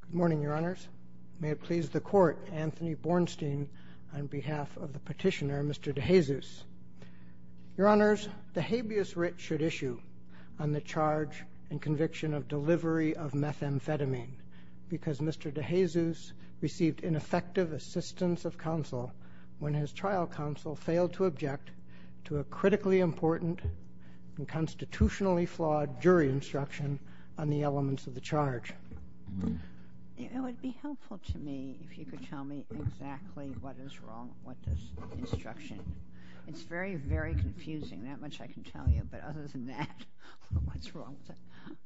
Good morning, Your Honors. May it please the Court, Anthony Bornstein, on behalf of the petitioner, Mr. De-Jesus. Your Honors, the habeas writ should issue on the charge and conviction of delivery of methamphetamine because Mr. De-Jesus received ineffective assistance of counsel when his trial counsel failed to object to a critically important and constitutionally flawed jury instruction on the elements of the charge. It would be helpful to me if you could tell me exactly what is wrong with this instruction. It's very, very confusing, that much I can tell you, but other than that, what's wrong with it?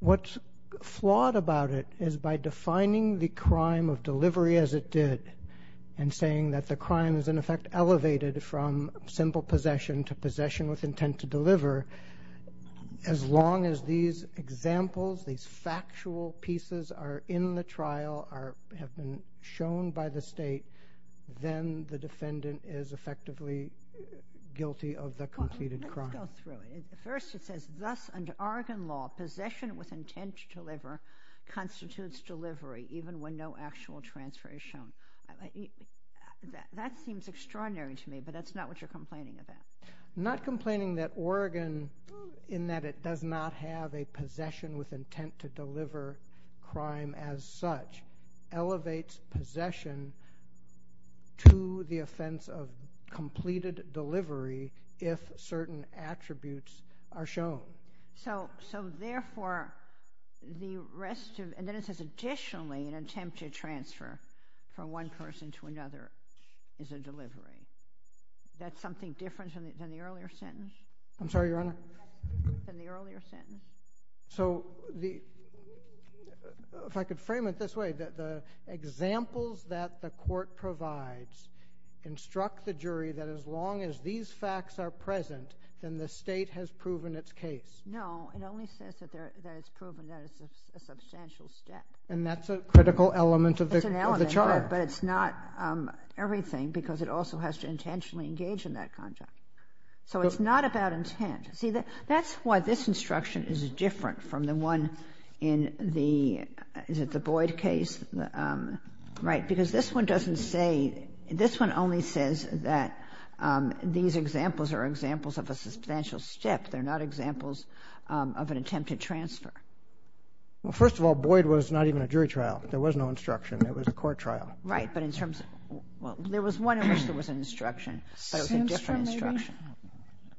What's flawed about it is by defining the crime of delivery as it did and saying that the crime is, in effect, elevated from simple possession to possession with intent to deliver, as long as these examples, these factual pieces are in the trial, have been shown by the state, then the defendant is effectively guilty of the completed crime. Let me go through it. First, it says, thus, under Oregon law, possession with intent to deliver constitutes delivery, even when no actual transfer is shown. That seems extraordinary to me, but that's not what you're complaining about. I'm not complaining that Oregon, in that it does not have a possession with intent to deliver crime as such, elevates possession to the offense of completed delivery if certain attributes are shown. So, therefore, the rest of, and then it says, additionally, an attempt to transfer from one person to another is a delivery. That's something different than the earlier sentence? I'm sorry, Your Honor? Than the earlier sentence? So, if I could frame it this way, the examples that the court provides instruct the jury that as long as these facts are present, then the state has proven its case. No, it only says that it's proven that it's a substantial step. And that's a critical element of the charge. But it's not everything, because it also has to intentionally engage in that conduct. So, it's not about intent. See, that's why this instruction is different from the one in the, is it the Boyd case? Right, because this one doesn't say, this one only says that these examples are examples of a substantial step. They're not examples of an attempt to transfer. Well, first of all, Boyd was not even a jury trial. There was no instruction. It was a court trial. Right, but in terms of, well, there was one in which there was an instruction, but it was a different instruction. Sandstrom, maybe?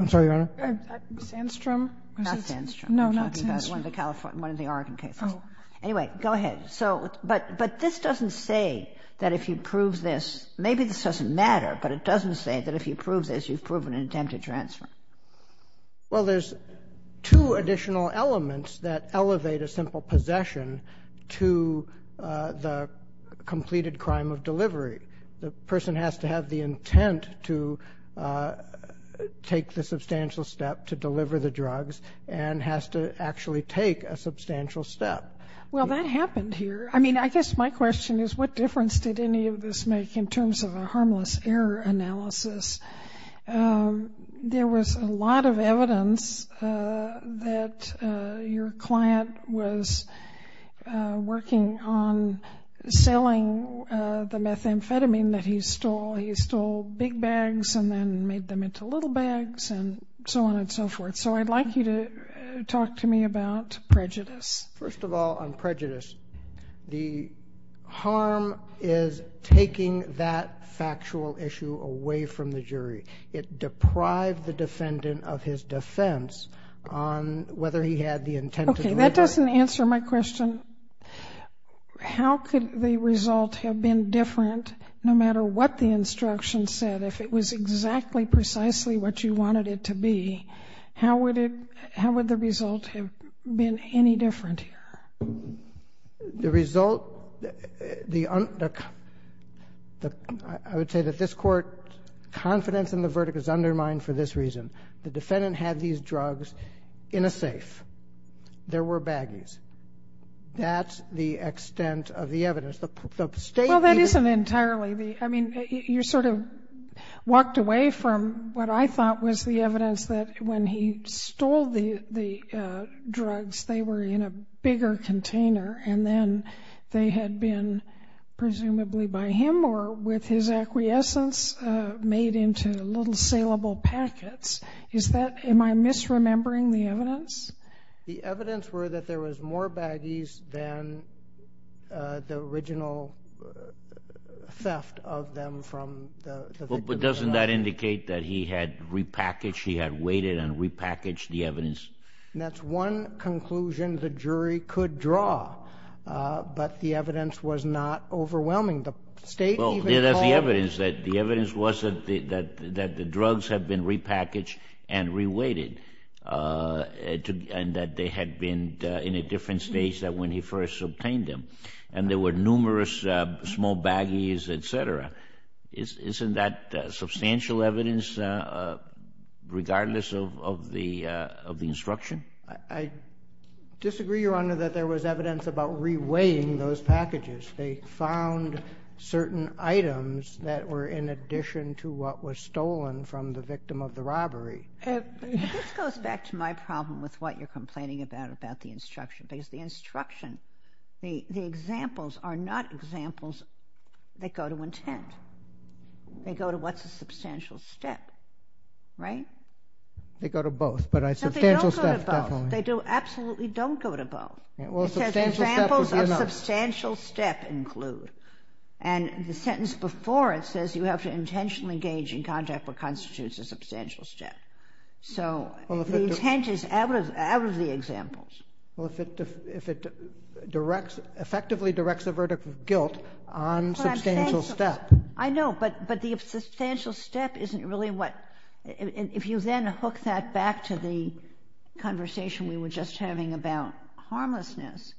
I'm sorry, Your Honor? Sandstrom? Not Sandstrom. No, not Sandstrom. I'm talking about one of the Oregon cases. Oh. Anyway, go ahead. So, but this doesn't say that if you prove this, maybe this doesn't matter, but it doesn't say that if you prove this, you've proven an attempt to transfer. Well, there's two additional elements that elevate a simple possession to the completed crime of delivery. The person has to have the intent to take the substantial step to deliver the drugs and has to actually take a substantial step. Well, that happened here. I mean, I guess my question is, what difference did any of this make in terms of a harmless error analysis? There was a lot of evidence that your client was working on selling the methamphetamine that he stole. He stole big bags and then made them into little bags and so on and so forth. So I'd like you to talk to me about prejudice. First of all, on prejudice, the harm is taking that factual issue away from the jury. It deprived the defendant of his defense on whether he had the intent to deliver. Okay, that doesn't answer my question. How could the result have been different no matter what the instruction said? If it was exactly, precisely what you wanted it to be, how would the result have been any different here? The result, I would say that this Court confidence in the verdict is undermined for this reason. The defendant had these drugs in a safe. There were baggies. That's the extent of the evidence. Well, that isn't entirely. I mean, you sort of walked away from what I thought was the evidence that when he stole the drugs, they were in a bigger container and then they had been presumably by him or with his acquiescence made into little saleable packets. Am I misremembering the evidence? The evidence were that there was more baggies than the original theft of them from the victim. But doesn't that indicate that he had repackaged, he had weighted and repackaged the evidence? That's one conclusion the jury could draw, but the evidence was not overwhelming. The state even claimed— and that they had been in a different stage than when he first obtained them. And there were numerous small baggies, et cetera. Isn't that substantial evidence regardless of the instruction? I disagree, Your Honor, that there was evidence about reweighing those packages. They found certain items that were in addition to what was stolen from the victim of the robbery. This goes back to my problem with what you're complaining about, about the instruction. Because the instruction, the examples are not examples that go to intent. They go to what's a substantial step, right? They go to both, but a substantial step, definitely. No, they don't go to both. They absolutely don't go to both. Because examples of substantial step include. And the sentence before it says, you have to intentionally engage in contact what constitutes a substantial step. So the intent is out of the examples. Well, if it effectively directs a verdict of guilt on substantial step. I know, but the substantial step isn't really what— if you then hook that back to the conversation we were just having about harmlessness,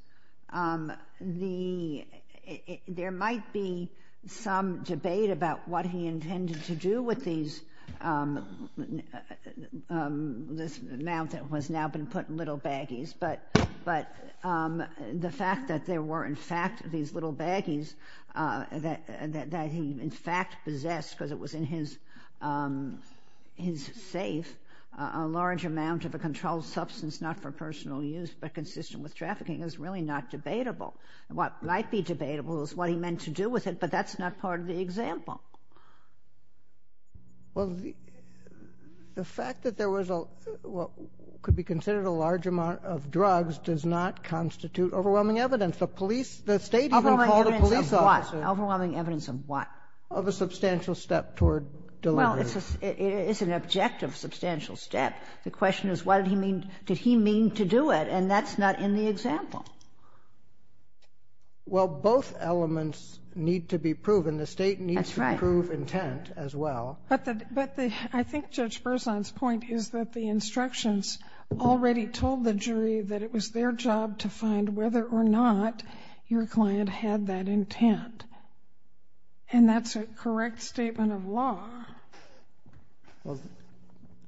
there might be some debate about what he intended to do with these— this amount that has now been put in little baggies. But the fact that there were, in fact, these little baggies that he, in fact, possessed, because it was in his safe, a large amount of a controlled substance, not for personal use, but consistent with trafficking, is really not debatable. What might be debatable is what he meant to do with it, but that's not part of the example. Well, the fact that there was what could be considered a large amount of drugs does not constitute overwhelming evidence. The police—the state has been called a police officer— Overwhelming evidence of what? Overwhelming evidence of what? Of a substantial step toward delivery. Well, it's an objective substantial step. The question is, what did he mean—did he mean to do it? And that's not in the example. Well, both elements need to be proven. The state needs to prove intent as well. But I think Judge Berzon's point is that the instructions already told the jury that it was their job to find whether or not your client had that intent. And that's a correct statement of law. Well,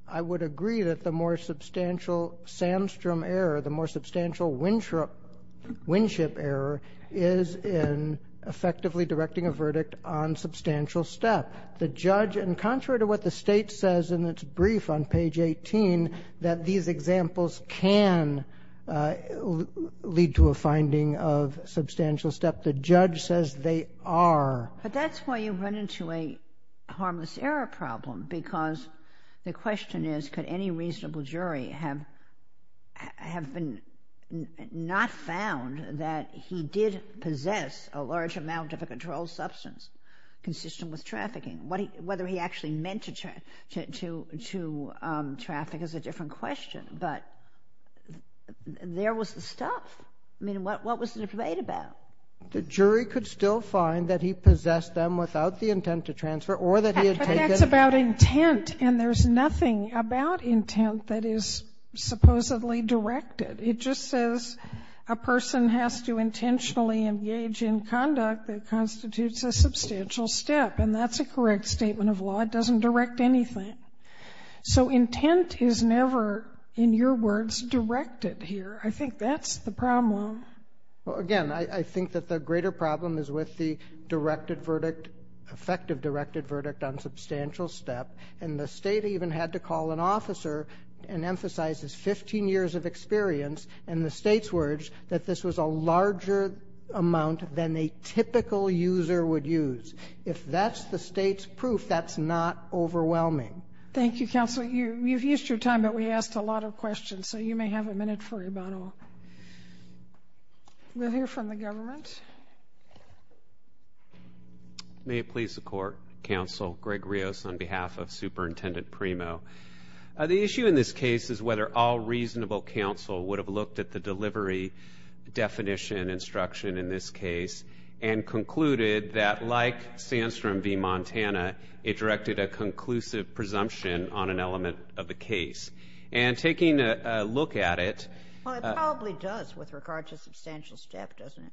I would agree that the more substantial Sandstrom error, the more substantial Winship error, is in effectively directing a verdict on substantial step. The judge—and contrary to what the state says in its brief on page 18, that these examples can lead to a finding of substantial step—the judge says they are. But that's why you run into a harmless error problem. Because the question is, could any reasonable jury have not found that he did possess a large amount of a controlled substance consistent with trafficking? Whether he actually meant to traffic is a different question. But there was the stuff. I mean, what was there to debate about? The jury could still find that he possessed them without the intent to transfer or that he had taken— But that's about intent. And there's nothing about intent that is supposedly directed. It just says a person has to intentionally engage in conduct that constitutes a substantial step. And that's a correct statement of law. It doesn't direct anything. So intent is never, in your words, directed here. I think that's the problem. Again, I think that the greater problem is with the effective directed verdict on substantial step. And the state even had to call an officer and emphasize his 15 years of experience and the state's words that this was a larger amount than a typical user would use. If that's the state's proof, that's not overwhelming. Thank you, Counselor. You've used your time, but we asked a lot of questions. So you may have a minute for rebuttal. We'll hear from the government. May it please the Court, Counsel Greg Rios on behalf of Superintendent Primo. The issue in this case is whether all reasonable counsel would have looked at the delivery definition instruction in this case and concluded that, like Sandstrom v. Montana, it directed a conclusive presumption on an element of the case. And taking a look at it. Well, it probably does with regard to substantial step, doesn't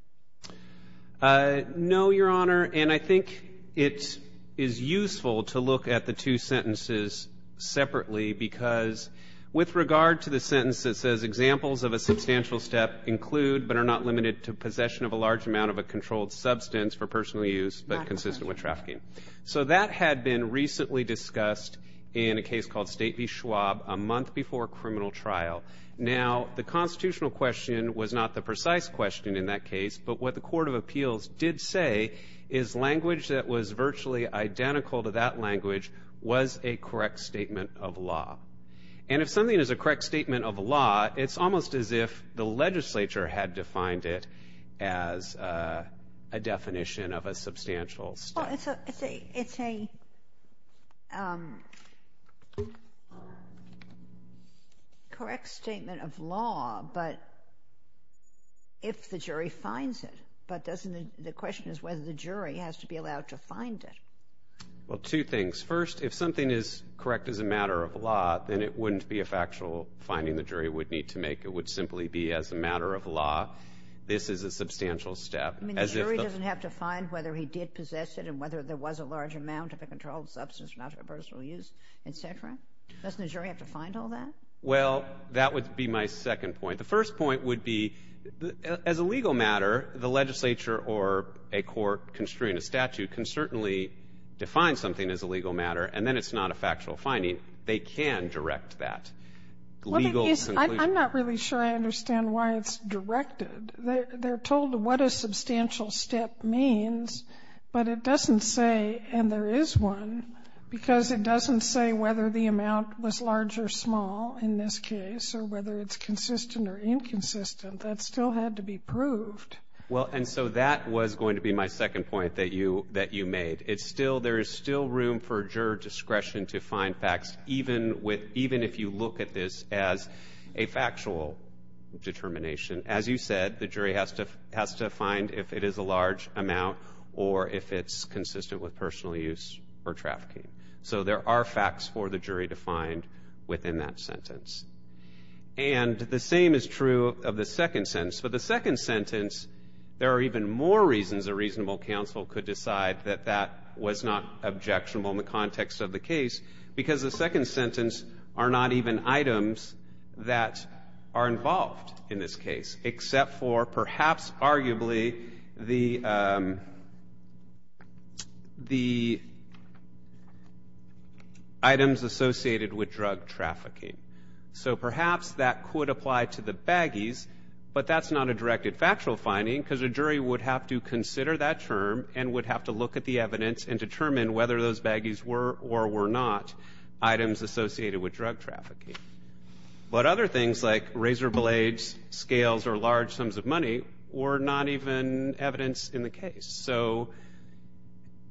it? No, Your Honor. And I think it is useful to look at the two sentences separately because with regard to the sentence that says examples of a substantial step include but are not limited to possession of a large amount of a controlled substance for personal use but consistent with trafficking. So that had been recently discussed in a case called State v. Schwab a month before criminal trial. Now, the constitutional question was not the precise question in that case, but what the Court of Appeals did say is language that was virtually identical to that language was a correct statement of law. And if something is a correct statement of law, it's almost as if the legislature had defined it as a definition of a substantial step. Well, it's a correct statement of law, but if the jury finds it. But the question is whether the jury has to be allowed to find it. Well, two things. First, if something is correct as a matter of law, then it wouldn't be a factual finding the jury would need to make. It would simply be as a matter of law, this is a substantial step. I mean, the jury doesn't have to find whether he did possess it and whether there was a large amount of a controlled substance for personal use, et cetera? Doesn't the jury have to find all that? Well, that would be my second point. The first point would be, as a legal matter, the legislature or a court construing a statute can certainly define something as a legal matter, and then it's not a factual finding. They can direct that. I'm not really sure I understand why it's directed. They're told what a substantial step means, but it doesn't say, and there is one, because it doesn't say whether the amount was large or small in this case, or whether it's consistent or inconsistent. That still had to be proved. Well, and so that was going to be my second point that you made. It's still, there is still room for juror discretion to find facts, even if you look at this as a factual determination. As you said, the jury has to find if it is a large amount or if it's consistent with personal use or trafficking. So there are facts for the jury to find within that sentence. And the same is true of the second sentence. For the second sentence, there are even more reasons a reasonable counsel could decide that that was not objectionable in the context of the case, because the second sentence are not even items that are involved in this case, except for perhaps arguably the items associated with drug trafficking. So perhaps that could apply to the baggies, but that's not a directed factual finding, because a jury would have to consider that term and would have to look at the evidence and determine whether those baggies were or were not items associated with drug trafficking. But other things like razor blades, scales, or large sums of money were not even evidence in the case. So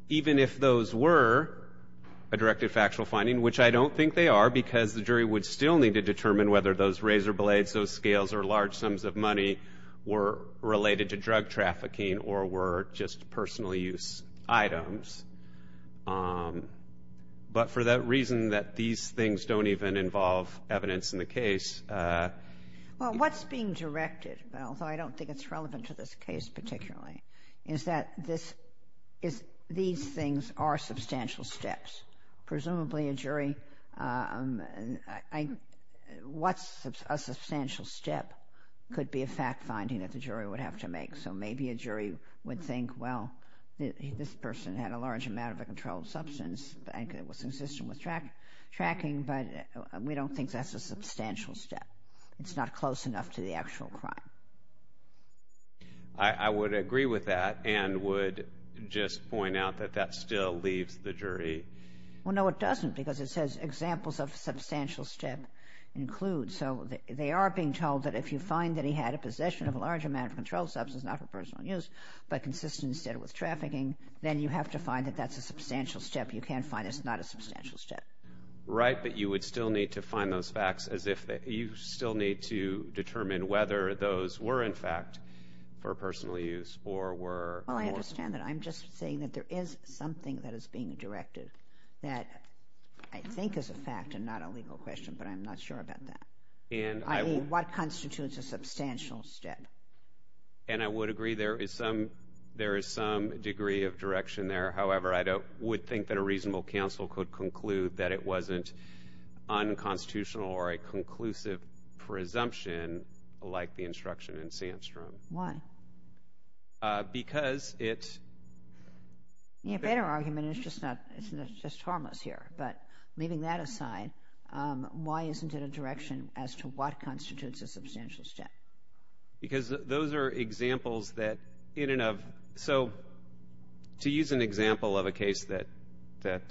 even if those were a directed factual finding, which I don't think they are, because the jury would still need to determine whether those razor blades, those scales, or large sums of money were items, but for that reason that these things don't even involve evidence in the case. Well, what's being directed, although I don't think it's relevant to this case particularly, is that these things are substantial steps. Presumably a jury, what's a substantial step could be a fact finding that the jury would have to make. So maybe a jury would think, well, this person had a large amount of a controlled substance that was consistent with tracking, but we don't think that's a substantial step. It's not close enough to the actual crime. I would agree with that and would just point out that that still leaves the jury. Well, no, it doesn't, because it says examples of substantial step include. So they are being told that if you find that he had a possession of a large amount of controlled substance, not for personal use, but consistent instead with trafficking, then you have to find that that's a substantial step. You can't find it's not a substantial step. Right, but you would still need to find those facts as if you still need to determine whether those were in fact for personal use or were. Well, I understand that. I'm just saying that there is something that is being directed that I think is a fact and not a legal question, but I'm not sure about that. I mean, what constitutes a substantial step? And I would agree there is some degree of direction there. However, I would think that a reasonable counsel could conclude that it wasn't unconstitutional or a conclusive presumption like the instruction in Sandstrom. Why? Because it's... You know, a better argument is just harmless here, but leaving that aside, why isn't it a reasonable direction as to what constitutes a substantial step? Because those are examples that in and of... So, to use an example of a case that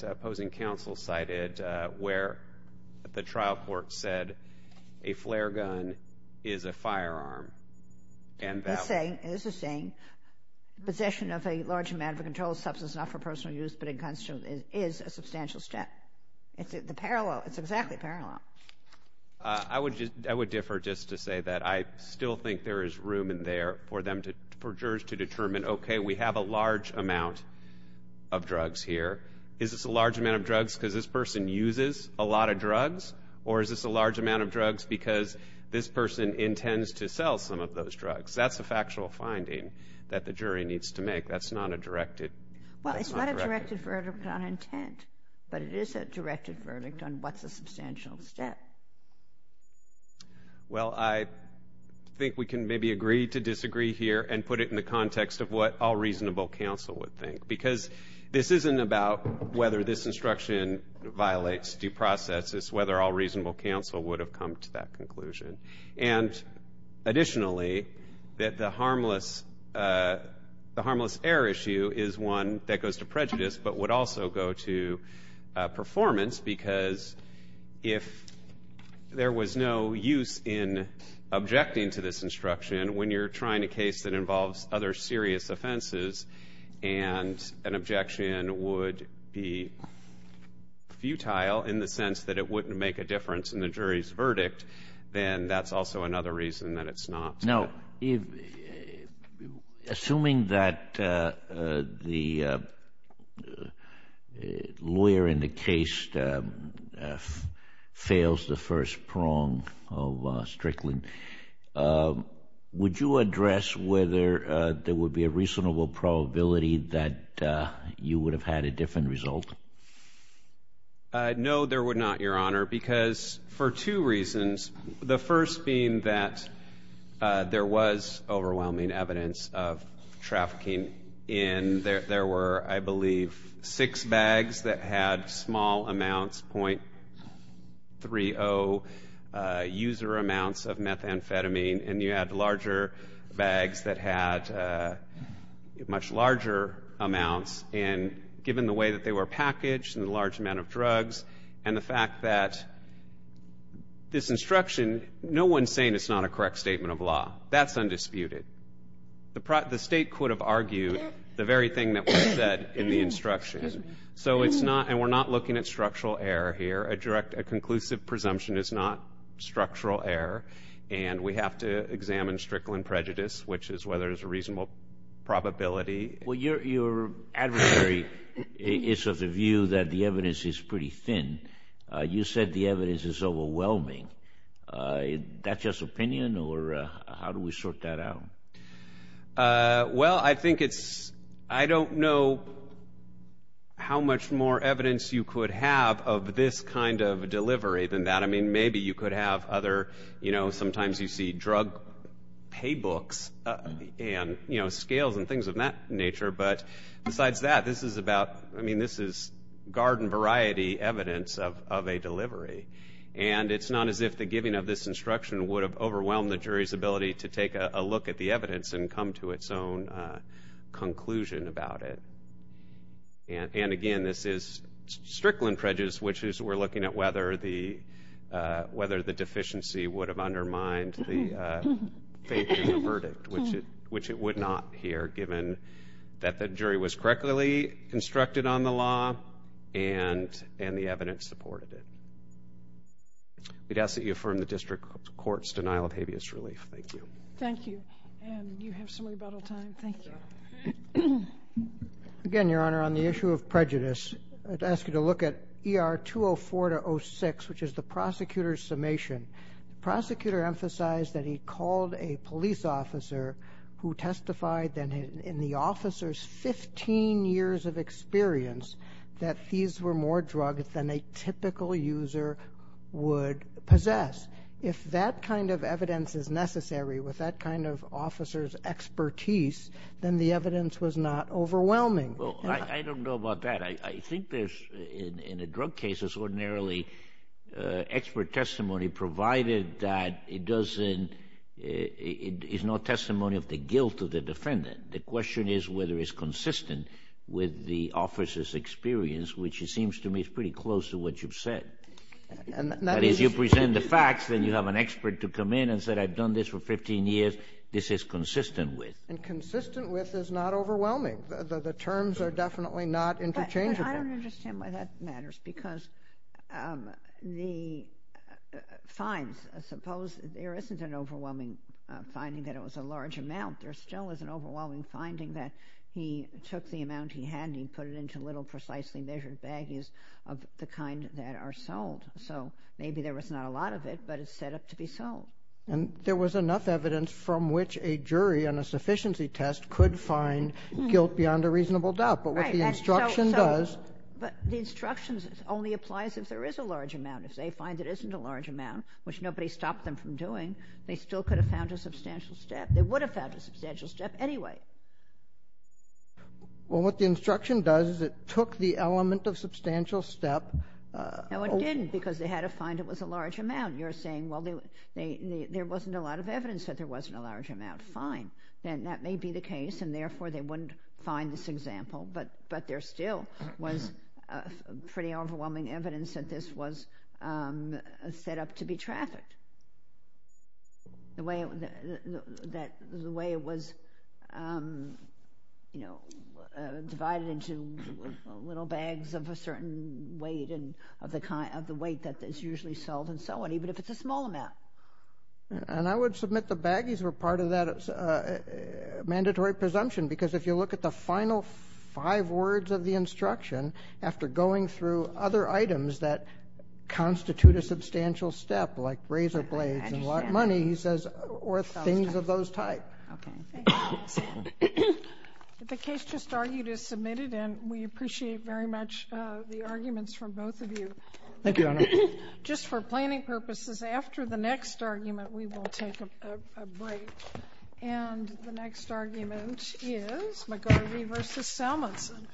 opposing counsel cited where the trial court said a flare gun is a firearm and that... It's the same. It's the same. Possession of a large amount of controlled substance, not for personal use, but inconsistent, is a substantial step. It's exactly parallel. I would differ just to say that I still think there is room in there for jurors to determine, okay, we have a large amount of drugs here. Is this a large amount of drugs because this person uses a lot of drugs? Or is this a large amount of drugs because this person intends to sell some of those drugs? That's a factual finding that the jury needs to make. That's not a directed... It's a directed verdict on what's a substantial step. Well, I think we can maybe agree to disagree here and put it in the context of what all reasonable counsel would think because this isn't about whether this instruction violates due process. It's whether all reasonable counsel would have come to that conclusion. And additionally, that the harmless error issue is one that goes to prejudice, but would also go to performance because if there was no use in objecting to this instruction when you're trying a case that involves other serious offenses and an objection would be futile in the sense that it wouldn't make a difference in the jury's verdict, then that's also another reason that it's not. Now, assuming that the lawyer in the case fails the first prong of Strickland, would you address whether there would be a reasonable probability that you would have had a different result? No, there would not, Your Honor, because for two reasons. The first being that there was overwhelming evidence of trafficking in... There were, I believe, six bags that had small amounts, .30 user amounts of methamphetamine, and you had larger bags that had much larger amounts. And given the way that they were packaged and the large amount of drugs and the fact that this instruction, no one's saying it's not a correct statement of law. That's undisputed. The State could have argued the very thing that was said in the instruction. So it's not, and we're not looking at structural error here. A direct, a conclusive presumption is not structural error, and we have to examine Strickland prejudice, which is whether there's a reasonable probability. Well, your adversary is of the view that the evidence is pretty thin. You said the evidence is overwhelming. Is that just opinion, or how do we sort that out? Well, I think it's, I don't know how much more evidence you could have of this kind of delivery than that. I mean, maybe you could have other, you know, sometimes you see drug pay books and, you know, scales and things of that nature. But besides that, this is about, I mean, this is garden variety evidence of a delivery. And it's not as if the giving of this instruction would have overwhelmed the jury's ability to take a look at the evidence and come to its own conclusion about it. And, again, this is Strickland prejudice, which is we're looking at whether the deficiency would have undermined the faith in the verdict, which it would not here given that the jury was correctly constructed on the law and the evidence supported it. We'd ask that you affirm the district court's denial of habeas relief. Thank you. Thank you. Ann, you have some rebuttal time. Thank you. Again, Your Honor, on the issue of prejudice, I'd ask you to look at ER 204-06, which is the prosecutor's summation. The prosecutor emphasized that he called a police officer who testified in the officer's 15 years of experience that these were more drugs than a typical user would possess. If that kind of evidence is necessary with that kind of officer's expertise, then the evidence was not overwhelming. Well, I don't know about that. I think there's, in a drug case, there's ordinarily expert testimony, provided that it is not testimony of the guilt of the defendant. The question is whether it's consistent with the officer's experience, which it seems to me is pretty close to what you've said. That is, you present the facts, then you have an expert to come in and say, I've done this for 15 years, this is consistent with. And consistent with is not overwhelming. The terms are definitely not interchangeable. I don't understand why that matters because the finds, suppose there isn't an overwhelming finding that it was a large amount. And he put it into little precisely measured baggies of the kind that are sold. So maybe there was not a lot of it, but it's set up to be sold. And there was enough evidence from which a jury on a sufficiency test could find guilt beyond a reasonable doubt. But what the instruction does. But the instructions only applies if there is a large amount. If they find it isn't a large amount, which nobody stopped them from doing, they still could have found a substantial step. They would have found a substantial step anyway. Well, what the instruction does is it took the element of substantial step. No, it didn't, because they had to find it was a large amount. You're saying, well, there wasn't a lot of evidence that there wasn't a large amount. Fine. That may be the case, and therefore they wouldn't find this example. But there still was pretty overwhelming evidence that this was set up to be trafficked. The way it was, you know, divided into little bags of a certain weight, of the weight that is usually sold and so on, even if it's a small amount. And I would submit the baggies were part of that mandatory presumption, because if you look at the final five words of the instruction, after going through other items that constitute a substantial step, like razor blades and a lot of money, he says, or things of those types. Okay. The case just argued is submitted, and we appreciate very much the arguments from both of you. Thank you, Your Honor. Just for planning purposes, after the next argument, we will take a break. And the next argument is McGarvey v. Salmonson.